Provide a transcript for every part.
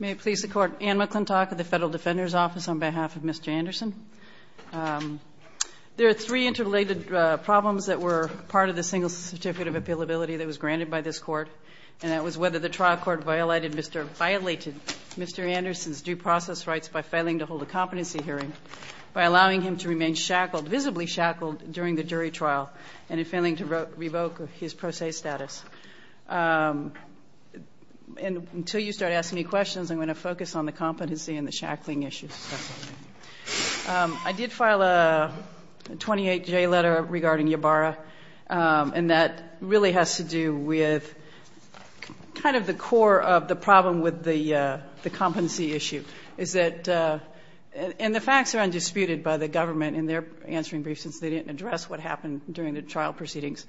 May it please the Court, Anne McClintock of the Federal Defender's Office on behalf of Mr. Anderson. There are three interrelated problems that were part of the single certificate of appealability that was granted by this Court, and that was whether the trial court violated Mr. Anderson's due process rights by failing to hold a competency hearing, by allowing him to remain shackled, visibly shackled, during the jury trial, and in failing to revoke his pro se status. And until you start asking me questions, I'm going to focus on the competency and the shackling issues. I did file a 28-J letter regarding Ybarra, and that really has to do with kind of the core of the problem with the competency issue, is that, and the facts are undisputed by the government in their answering briefs, since they didn't address what happened during the trial proceedings,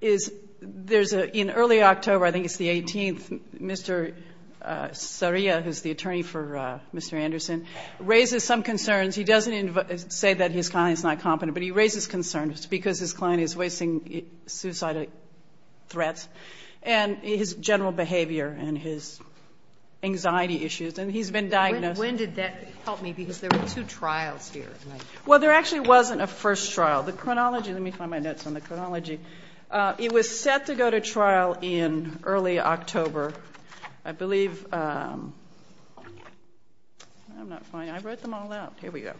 is there's a, in early October, I think it's the 18th, Mr. Saria, who's the attorney for Mr. Anderson, raises some concerns. He doesn't say that his client is not competent, but he raises concerns because his client is voicing suicidal threats, and his general behavior and his anxiety issues, and he's been diagnosed. When did that help me? Because there were two trials here. Well, there actually wasn't a first trial. The chronology, let me find my notes on the chronology. It was set to go to trial in early October. I believe, I'm not finding, I wrote them all out. Here we go.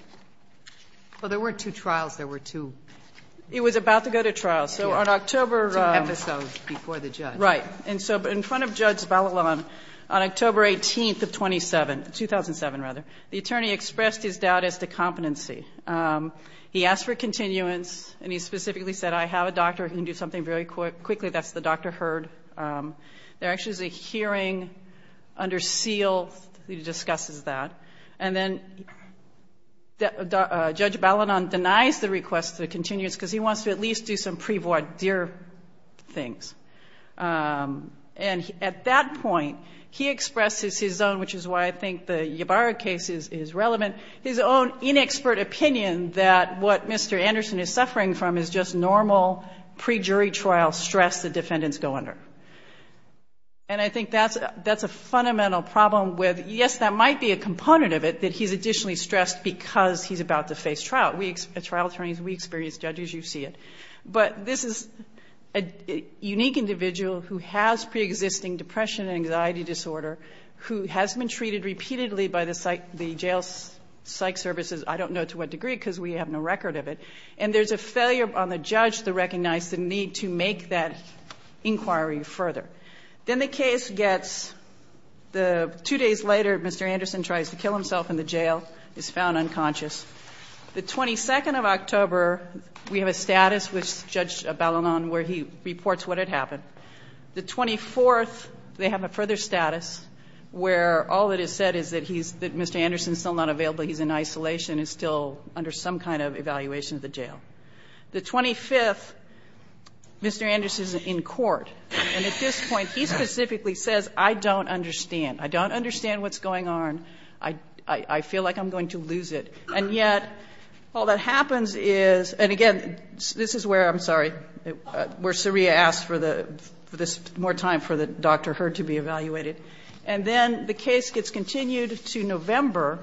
Well, there were two trials. There were two. It was about to go to trial. So on October. Two episodes before the judge. Right. And so in front of Judge Ballaton, on October 18th of 2007, the attorney expressed his doubt as to competency. He asked for continuance, and he specifically said, I have a doctor who can do something very quickly. That's the doctor heard. There actually is a hearing under seal that discusses that. And then Judge Ballaton denies the request for continuance because he wants to at least do some pre-voir dire things. And at that point, he expresses his own, which is why I think the Ybarra case is relevant, his own inexpert opinion that what Mr. Anderson is suffering from is just normal pre-jury trial stress the defendants go under. And I think that's a fundamental problem with, yes, that might be a component of it, that he's additionally stressed because he's about to face trial. As trial attorneys, we experience, judges, you see it. But this is a unique individual who has pre-existing depression and anxiety disorder, who has been treated repeatedly by the jail psych services, I don't know to what degree because we have no record of it. And there's a failure on the judge to recognize the need to make that inquiry further. Then the case gets, two days later, Mr. Anderson tries to kill himself in the jail, is found unconscious. The 22nd of October, we have a status with Judge Ballaton where he reports what had happened. The 24th, they have a further status where all that is said is that Mr. Anderson is still not available, he's in isolation, he's still under some kind of evaluation at the jail. The 25th, Mr. Anderson is in court. And at this point, he specifically says, I don't understand. I don't understand what's going on. I feel like I'm going to lose it. And yet, all that happens is, and again, this is where, I'm sorry, where Saria asked for the, more time for the doctor, her, to be evaluated. And then the case gets continued to November,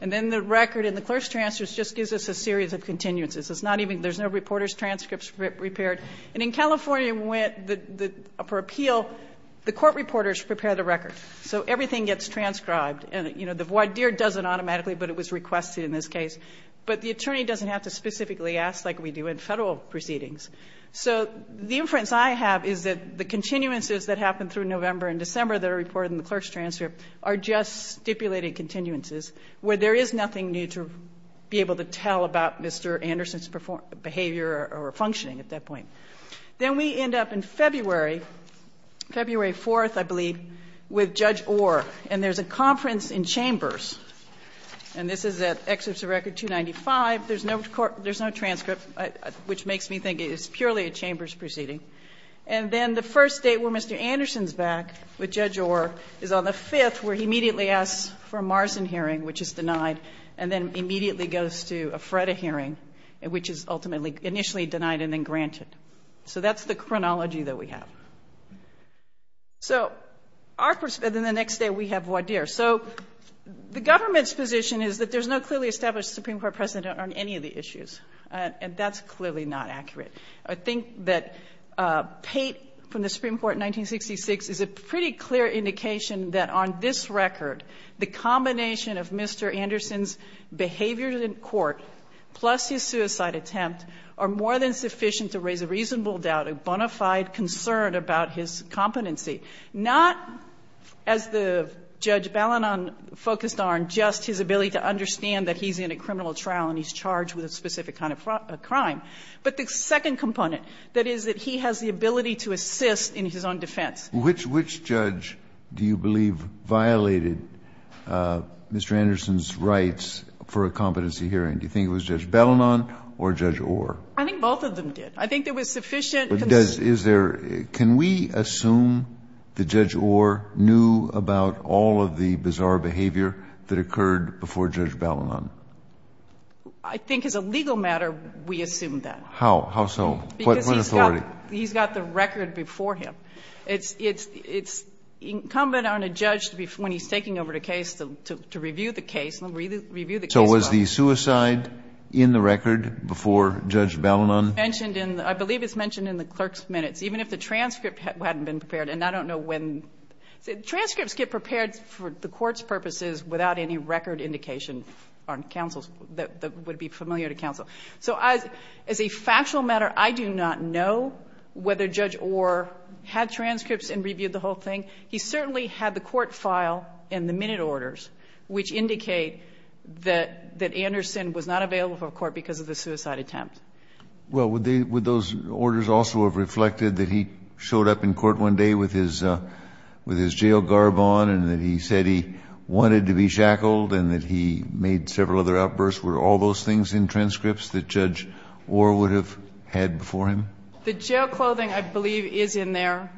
and then the record in the clerk's transcripts just gives us a series of continuances. It's not even, there's no reporter's transcripts repaired. And in California, for appeal, the court reporters prepare the record. So everything gets transcribed. And, you know, the voir dire doesn't automatically, but it was requested in this case. But the attorney doesn't have to specifically ask like we do in Federal proceedings. So the inference I have is that the continuances that happen through November and December that are reported in the clerk's transcript are just stipulated continuances where there is nothing new to be able to tell about Mr. Anderson's behavior or functioning at that point. Then we end up in February, February 4th, I believe, with Judge Orr. And there's a conference in chambers. And this is at Excerpts of Record 295. There's no transcript, which makes me think it's purely a chambers proceeding. And then the first day where Mr. Anderson's back with Judge Orr is on the 5th, where he immediately asks for a Marsden hearing, which is denied, and then immediately goes to a Freda hearing, which is ultimately, initially denied and then granted. So that's the chronology that we have. So in the next day we have voir dire. So the government's position is that there's no clearly established Supreme Court precedent on any of the issues. And that's clearly not accurate. I think that Pate, from the Supreme Court in 1966, is a pretty clear indication that on this record, the combination of Mr. Anderson's behavior in court plus his suicide attempt are more than sufficient to raise a reasonable doubt, a bona fide concern about his competency. Not, as the Judge Ballinon focused on, just his ability to understand that he's in a criminal trial and he's charged with a specific kind of crime. But the second component, that is that he has the ability to assist in his own defense. Kennedy. Which judge do you believe violated Mr. Anderson's rights for a competency hearing? Do you think it was Judge Ballinon or Judge Orr? I think both of them did. I think there was sufficient consent. Can we assume that Judge Orr knew about all of the bizarre behavior that occurred before Judge Ballinon? I think as a legal matter, we assume that. How? How so? Because he's got the record before him. It's incumbent on a judge when he's taking over the case to review the case, review the case record. So was the suicide in the record before Judge Ballinon? I believe it's mentioned in the clerk's minutes. Even if the transcript hadn't been prepared, and I don't know when... Transcripts get prepared for the court's purposes without any record indication on counsel's... that would be familiar to counsel. So as a factual matter, I do not know whether Judge Orr had transcripts and reviewed the whole thing. He certainly had the court file and the minute orders, which indicate that Anderson was not available for a court because of the suicide attempt. Well, would those orders also have reflected that he showed up in court one day with his jail garb on and that he said he wanted to be shackled and that he made several other outbursts? Were all those things in transcripts that Judge Orr would have had before him? The jail clothing, I believe, is in there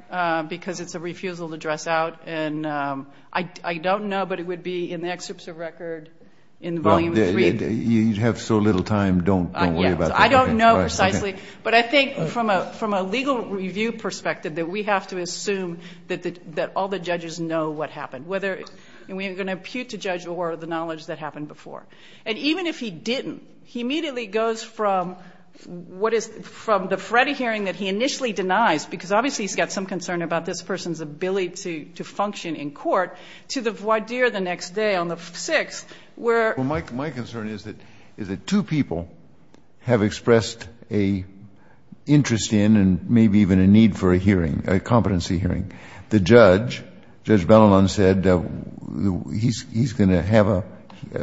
because it's a refusal to dress out. And I don't know, but it would be in the excerpts of record in Volume 3. You have so little time, don't worry about that. I don't know precisely, but I think from a legal review perspective that we have to assume that all the judges know what happened, whether we're going to impute to Judge Orr the knowledge that happened before. And even if he didn't, he immediately goes from what is... from the Freddie hearing that he initially denies, because obviously he's got some concern about this person's ability to function in court, to the voir dire the next day on the 6th where... interest in and maybe even a need for a hearing, a competency hearing. The judge, Judge Bellinon, said he's going to have a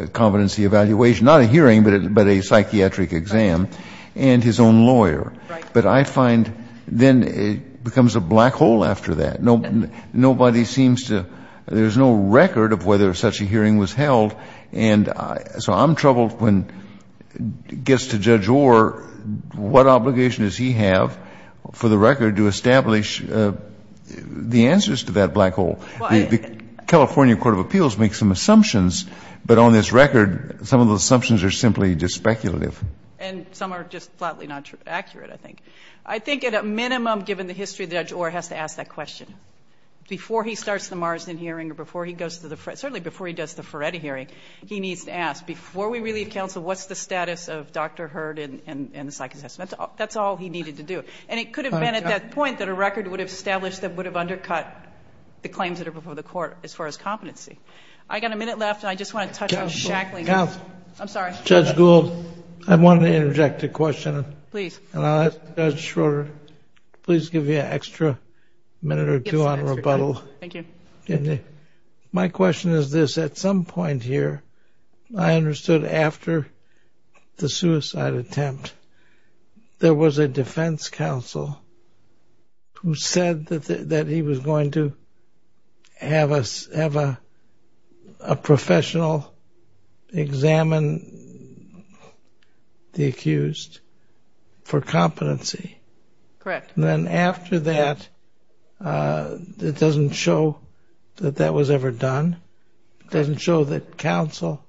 competency evaluation, not a hearing, but a psychiatric exam, and his own lawyer. But I find then it becomes a black hole after that. Nobody seems to... there's no record of whether such a hearing was held. And so I'm troubled when it gets to Judge Orr, what obligation does he have for the record to establish the answers to that black hole? The California Court of Appeals makes some assumptions, but on this record some of those assumptions are simply just speculative. And some are just flatly not accurate, I think. I think at a minimum, given the history, Judge Orr has to ask that question. Before he starts the Marsden hearing or before he goes to the... he needs to ask, before we relieve counsel, what's the status of Dr. Hurd and the psych assessment? That's all he needed to do. And it could have been at that point that a record would have established that would have undercut the claims that are before the court as far as competency. I've got a minute left, and I just want to touch on Shackley. I'm sorry. Judge Gould, I want to interject a question. Please. And I'll ask Judge Schroeder, please give me an extra minute or two on rebuttal. Thank you. My question is this. At some point here, I understood after the suicide attempt, there was a defense counsel who said that he was going to have a professional examine the accused for competency. Correct. And then after that, it doesn't show that that was ever done. It doesn't show that counsel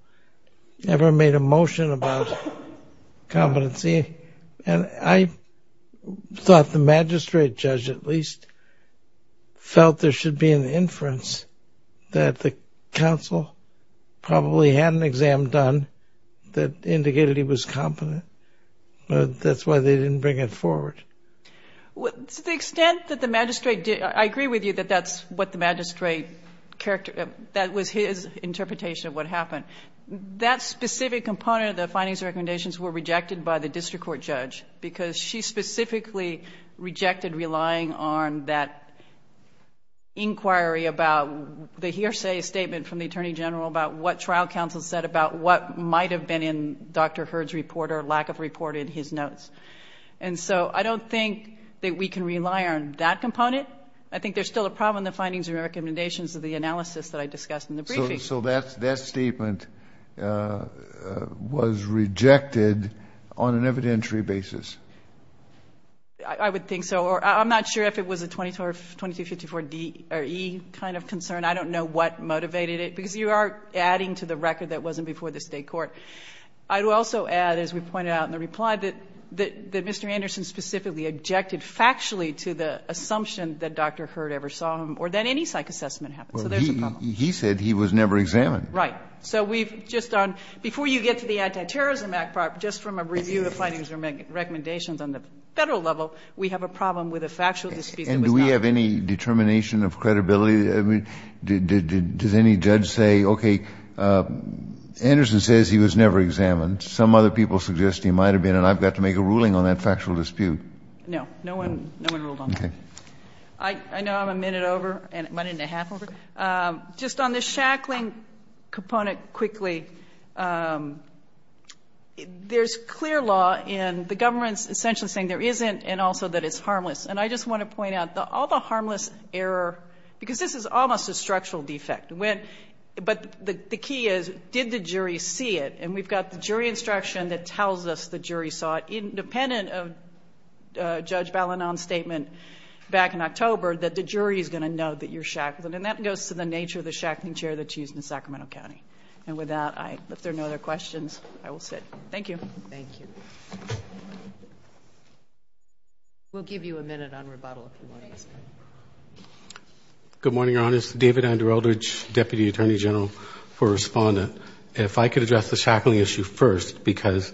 ever made a motion about competency. And I thought the magistrate judge at least felt there should be an inference that the counsel probably had an exam done that indicated he was competent. That's why they didn't bring it forward. To the extent that the magistrate did, I agree with you that that's what the magistrate, that was his interpretation of what happened. That specific component of the findings and recommendations were rejected by the district court judge because she specifically rejected relying on that And so I don't think that we can rely on that component. I think there's still a problem in the findings and recommendations of the analysis that I discussed in the briefing. So that statement was rejected on an evidentiary basis? I would think so. I'm not sure if it was a 2254-E kind of concern. I don't know what motivated it. Because you are adding to the record that wasn't before the state court. I would also add, as we pointed out in the reply, that Mr. Anderson specifically objected factually to the assumption that Dr. Hurd ever saw him or that any psych assessment happened. So there's a problem. He said he was never examined. Right. So we've just done, before you get to the Antiterrorism Act part, just from a review of the findings and recommendations on the Federal level, we have a problem with a factual dispute. And do we have any determination of credibility? Does any judge say, okay, Anderson says he was never examined. Some other people suggest he might have been. And I've got to make a ruling on that factual dispute. No. No one ruled on that. Okay. I know I'm a minute over, a minute and a half over. Just on the shackling component quickly, there's clear law in the government essentially saying there isn't and also that it's harmless. And I just want to point out, all the harmless error, because this is almost a structural defect. But the key is, did the jury see it? And we've got the jury instruction that tells us the jury saw it, independent of Judge Balinon's statement back in October, that the jury is going to know that you're shackled. And that goes to the nature of the shackling chair that's used in Sacramento County. And with that, if there are no other questions, I will sit. Thank you. Thank you. We'll give you a minute on rebuttal if you want. Good morning, Your Honors. David Andrew Eldridge, Deputy Attorney General for Respondent. If I could address the shackling issue first, because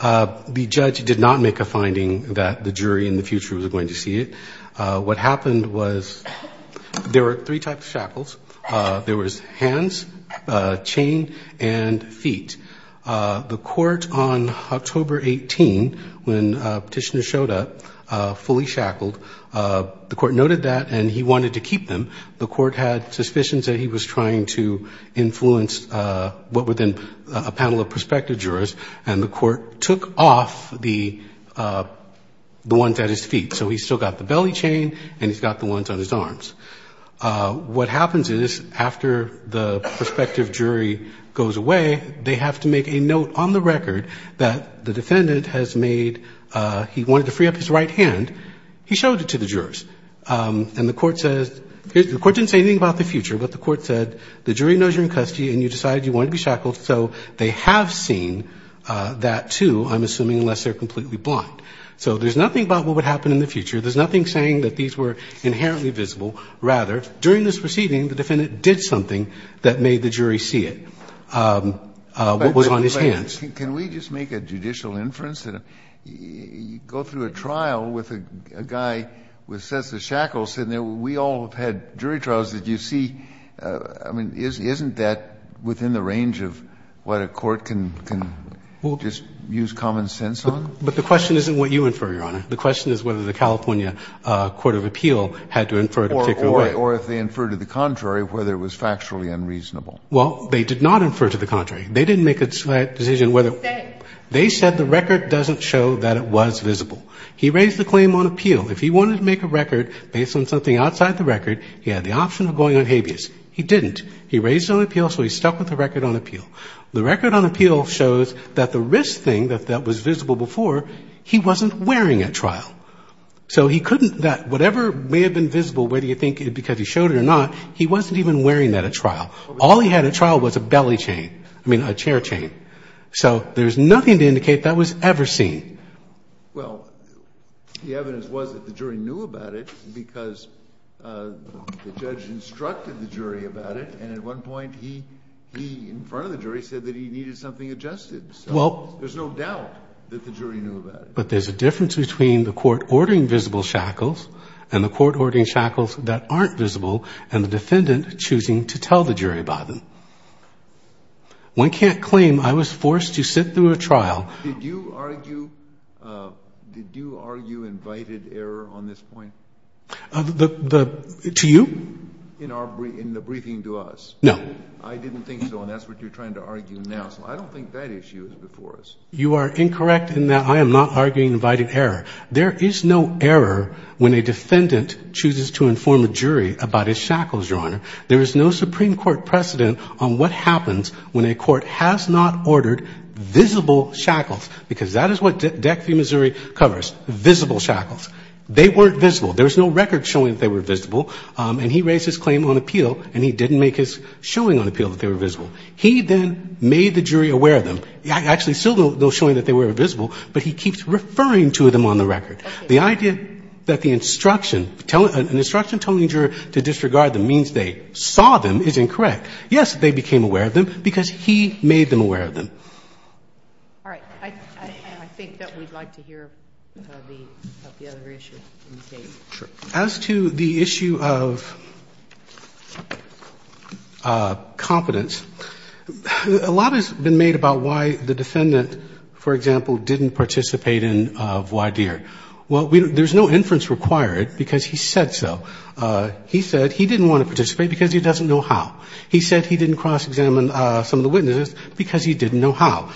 the judge did not make a finding that the jury in the future was going to see it. What happened was there were three types of shackles. There was hands, chain, and feet. The court on October 18, when Petitioner showed up, fully shackled. The court noted that, and he wanted to keep them. The court had suspicions that he was trying to influence what were then a panel of prospective jurors, and the court took off the ones at his feet. So he's still got the belly chain, and he's got the ones on his arms. What happens is, after the prospective jury goes away, they have to make a note on the record that the defendant has made, he wanted to free up his right hand, he showed it to the jurors. And the court says, the court didn't say anything about the future, but the court said, the jury knows you're in custody, and you decided you wanted to be shackled. So they have seen that too, I'm assuming, unless they're completely blind. So there's nothing about what would happen in the future. There's nothing saying that these were inherently visible. Rather, during this proceeding, the defendant did something that made the jury see it. What was on his hands. Can we just make a judicial inference? Go through a trial with a guy with sets of shackles sitting there. We all have had jury trials that you see. I mean, isn't that within the range of what a court can just use common sense on? But the question isn't what you infer, Your Honor. The question is whether the California Court of Appeal had to infer it a particular way. Or if they inferred to the contrary, whether it was factually unreasonable. Well, they did not infer to the contrary. They didn't make that decision. They said the record doesn't show that it was visible. He raised the claim on appeal. If he wanted to make a record based on something outside the record, he had the option of going on habeas. He didn't. He raised it on appeal, so he stuck with the record on appeal. The record on appeal shows that the wrist thing that was visible before, he wasn't wearing at trial. So he couldn't, that whatever may have been visible, whether you think because he showed it or not, he wasn't even wearing that at trial. All he had at trial was a belly chain, I mean a chair chain. So there's nothing to indicate that was ever seen. Well, the evidence was that the jury knew about it because the judge instructed the jury about it, and at one point he, in front of the jury, said that he needed something adjusted. So there's no doubt that the jury knew about it. But there's a difference between the court ordering visible shackles and the court ordering shackles that aren't visible and the defendant choosing to tell the jury about them. One can't claim I was forced to sit through a trial. Did you argue invited error on this point? To you? In the briefing to us. No. I didn't think so, and that's what you're trying to argue now. So I don't think that issue is before us. You are incorrect in that I am not arguing invited error. Your Honor. There is no Supreme Court precedent on what happens when a court has not ordered visible shackles, because that is what DEC v. Missouri covers, visible shackles. They weren't visible. There was no record showing that they were visible, and he raised his claim on appeal, and he didn't make his showing on appeal that they were visible. He then made the jury aware of them. Actually, still no showing that they were visible, but he keeps referring to them on the record. The idea that the instruction, an instruction telling the juror to disregard them means they saw them is incorrect. Yes, they became aware of them, because he made them aware of them. All right. I think that we'd like to hear the other issue. Sure. As to the issue of competence, a lot has been made about why the defendant, for example, didn't participate in voir dire. Well, there's no inference required, because he said so. He said he didn't want to participate because he doesn't know how. He said he didn't cross-examine some of the witnesses because he didn't know how.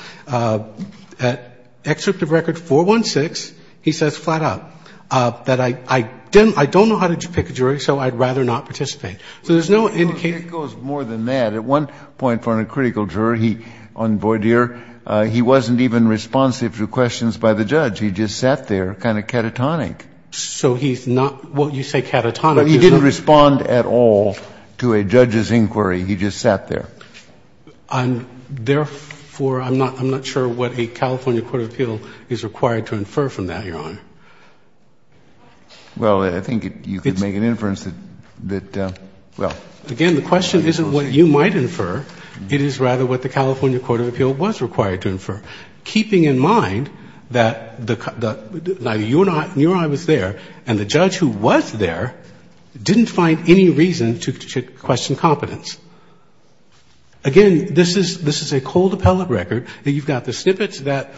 At Excerpt of Record 416, he says flat out that I don't know how to pick a jury, so I'd rather not participate. So there's no indication. It goes more than that. At one point for a critical jury on voir dire, he wasn't even responsive to questions by the judge. He just sat there, kind of catatonic. So he's not what you say catatonic. He didn't respond at all to a judge's inquiry. He just sat there. Therefore, I'm not sure what a California court of appeal is required to infer from that, Your Honor. Well, I think you could make an inference that, well. Again, the question isn't what you might infer. It is rather what the California court of appeal was required to infer. Keeping in mind that neither you nor I was there and the judge who was there didn't find any reason to question competence. Again, this is a cold appellate record. You've got the snippets that,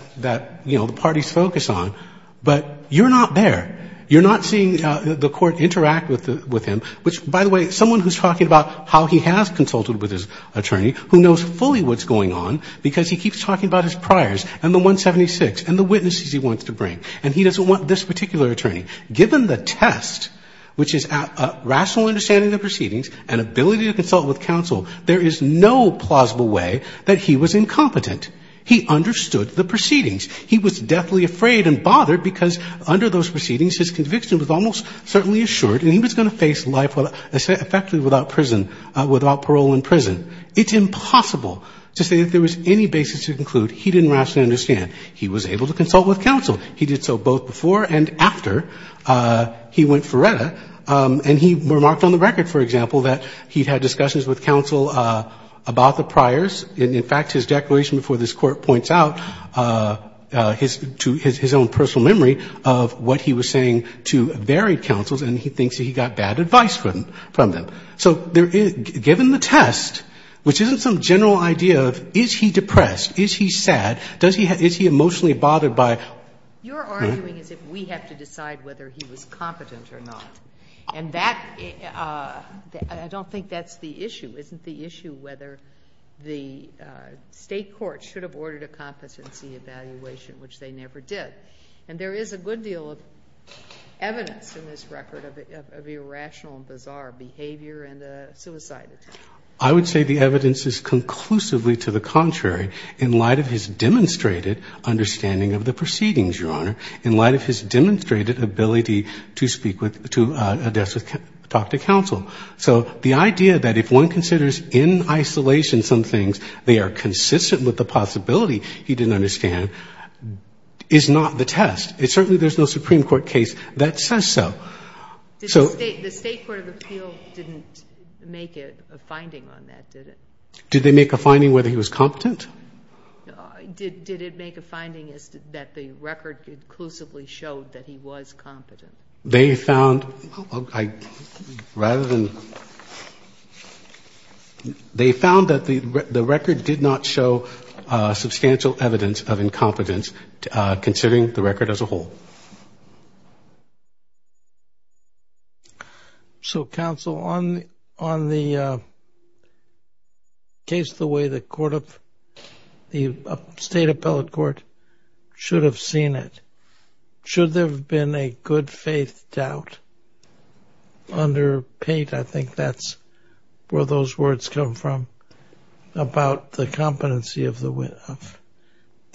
you know, the parties focus on. But you're not there. You're not seeing the court interact with him, which, by the way, someone who's talking about how he has consulted with his attorney who knows fully what's going on because he keeps talking about his priors and the 176 and the witnesses he wants to bring. And he doesn't want this particular attorney. Given the test, which is a rational understanding of the proceedings and ability to consult with counsel, there is no plausible way that he was incompetent. He understood the proceedings. He was deathly afraid and bothered because under those proceedings his conviction was almost certainly assured and he was going to face life effectively without parole in prison. It's impossible to say that there was any basis to conclude he didn't rationally understand. He was able to consult with counsel. He did so both before and after he went for RETA. And he remarked on the record, for example, that he'd had discussions with counsel about the priors. And in fact, his declaration before this Court points out his own personal memory of what he was saying to varied counsels and he thinks that he got bad advice from them. So given the test, which isn't some general idea of is he depressed, is he sad, is he emotionally bothered by it? You're arguing as if we have to decide whether he was competent or not. And that — I don't think that's the issue. Isn't the issue whether the State court should have ordered a competency evaluation, which they never did. And there is a good deal of evidence in this record of irrational and bizarre behavior and the suicide attempt. I would say the evidence is conclusively to the contrary in light of his demonstrated understanding of the proceedings, Your Honor, in light of his demonstrated ability to speak with — to address with — talk to counsel. So the idea that if one considers in isolation some things, they are consistent with the possibility he didn't understand is not the test. Certainly there's no Supreme Court case that says so. The State court of appeal didn't make a finding on that, did it? Did they make a finding whether he was competent? Did it make a finding that the record conclusively showed that he was competent? They found — rather than — they found that the record did not show substantial evidence of incompetence considering the record as a whole. So, counsel, on the case the way the court of — the State appellate court should have seen it, should there have been a good-faith doubt under Pate? I think that's where those words come from about the competency of the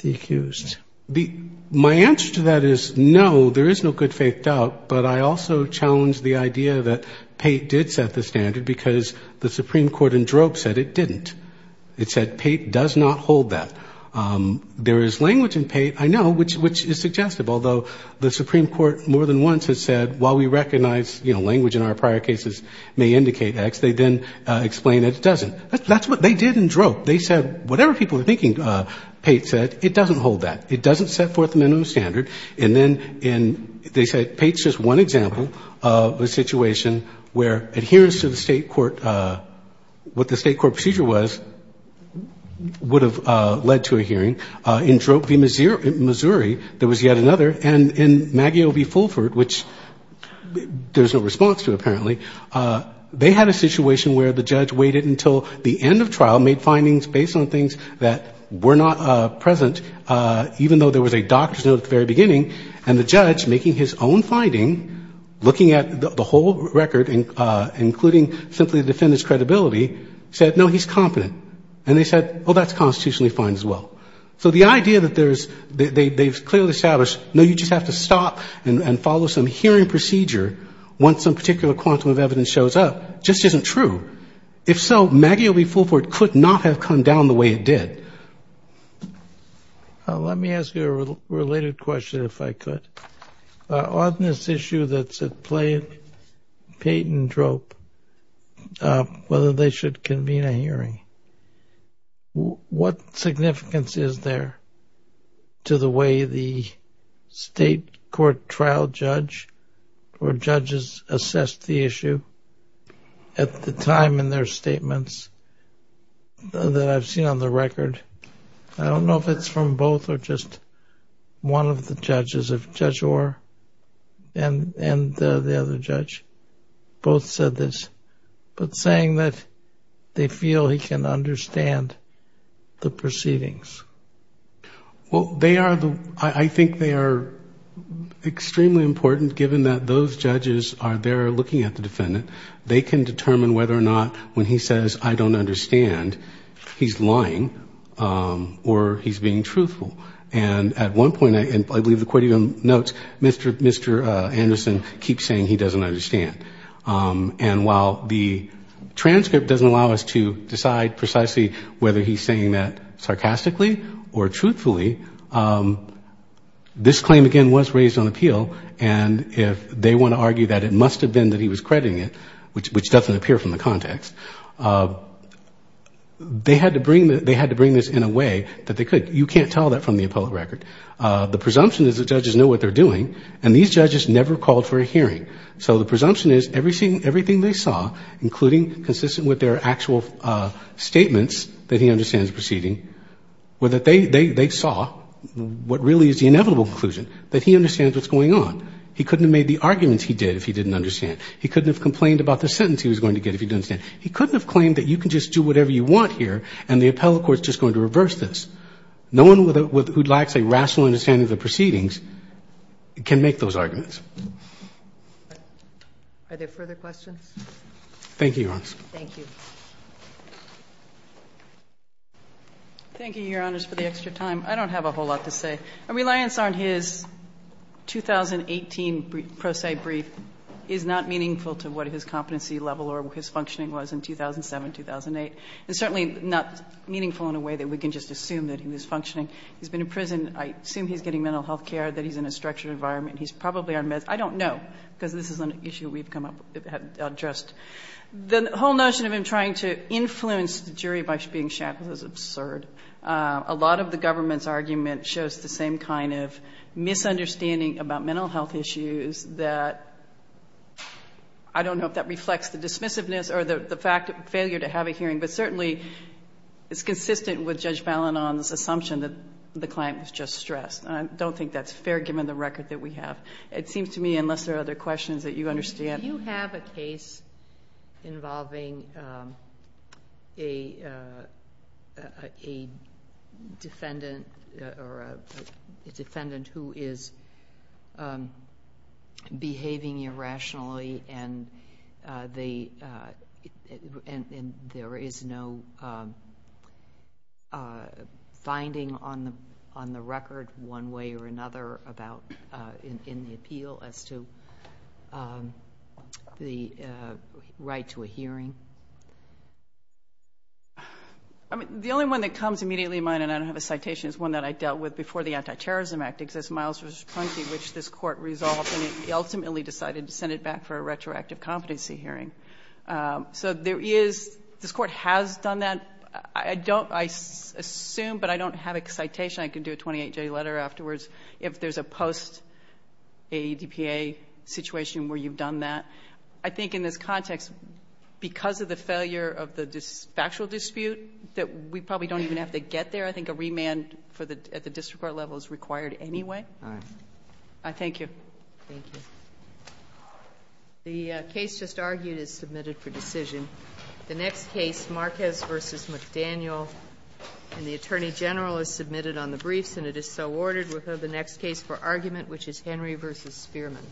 accused. My answer to that is no, there is no good-faith doubt. But I also challenge the idea that Pate did set the standard because the Supreme Court in drope said it didn't. It said Pate does not hold that. There is language in Pate, I know, which is suggestive, although the Supreme Court more than once has said while we recognize language in our prior cases may indicate X, they then explain that it doesn't. That's what they did in drope. They said whatever people are thinking, Pate said, it doesn't hold that. It doesn't set forth the minimum standard. And then in — they said Pate's just one example of a situation where adherence to the State court — what the State court procedure was would have led to a hearing. In drope v. Missouri, there was yet another. And in Maggio v. Fulford, which there's no response to apparently, they had a hearing based on things that were not present, even though there was a doctor's note at the very beginning. And the judge, making his own finding, looking at the whole record, including simply the defendant's credibility, said, no, he's competent. And they said, well, that's constitutionally fine as well. So the idea that there's — they've clearly established, no, you just have to stop and follow some hearing procedure once some particular quantum of evidence shows up just isn't true. If so, Maggio v. Fulford could not have come down the way it did. Let me ask you a related question, if I could. On this issue that's at play, Pate and drope, whether they should convene a hearing, what significance is there to the way the State court trial judge or judges assessed the issue at the time in their statements that I've seen on the record? I don't know if it's from both or just one of the judges. If Judge Orr and the other judge both said this. But saying that they feel he can understand the proceedings. Well, I think they are extremely important, given that those judges are there looking at the defendant. They can determine whether or not when he says, I don't understand, he's lying or he's being truthful. And at one point, I believe the court even notes, Mr. Anderson keeps saying he doesn't understand. And while the transcript doesn't allow us to decide precisely whether he's saying that sarcastically or truthfully, this claim, again, was raised on appeal. And if they want to argue that it must have been that he was crediting it, which doesn't appear from the context, they had to bring this in a way that they could. You can't tell that from the appellate record. The presumption is the judges know what they're doing. And these judges never called for a hearing. So the presumption is everything they saw, including consistent with their actual statements that he understands the proceeding, were that they saw what really is the inevitable conclusion, that he understands what's going on. He couldn't have made the arguments he did if he didn't understand. He couldn't have complained about the sentence he was going to get if he didn't understand. He couldn't have claimed that you can just do whatever you want here and the appellate court is just going to reverse this. No one who lacks a rational understanding of the proceedings can make those arguments. Are there further questions? Thank you, Your Honor. Thank you. Thank you, Your Honors, for the extra time. I don't have a whole lot to say. Reliance on his 2018 pro se brief is not meaningful to what his competency level or his functioning was in 2007, 2008. It's certainly not meaningful in a way that we can just assume that he was functioning. He's been in prison. I assume he's getting mental health care, that he's in a structured environment. He's probably on meds. I don't know, because this is an issue we've come up with. The whole notion of him trying to influence the jury by being shanty was absurd. A lot of the government's argument shows the same kind of misunderstanding about mental health issues that I don't know if that reflects the dismissiveness or the failure to have a hearing, but certainly it's consistent with Judge Balinon's assumption that the client was just stressed. I don't think that's fair given the record that we have. It seems to me, unless there are other questions that you understand. Do you have a case involving a defendant who is behaving irrationally and there is no finding on the record one way or another in the appeal as to the right to a hearing? The only one that comes immediately to mind, and I don't have a citation, is one that I dealt with before the Anti-Terrorism Act exists, Miles v. Prunky, which this Court resolved and ultimately decided to send it back for a retroactive competency hearing. This Court has done that. I assume, but I don't have a citation. I can do a 28-J letter afterwards if there's a post-AEDPA situation where you've done that. I think in this context, because of the failure of the factual dispute, that we probably don't even have to get there. I think a remand at the district court level is required anyway. All right. Thank you. Thank you. The case just argued is submitted for decision. The next case, Marquez v. McDaniel and the Attorney General, is submitted on the briefs and it is so ordered. We'll have the next case for argument, which is Henry v. Spearman.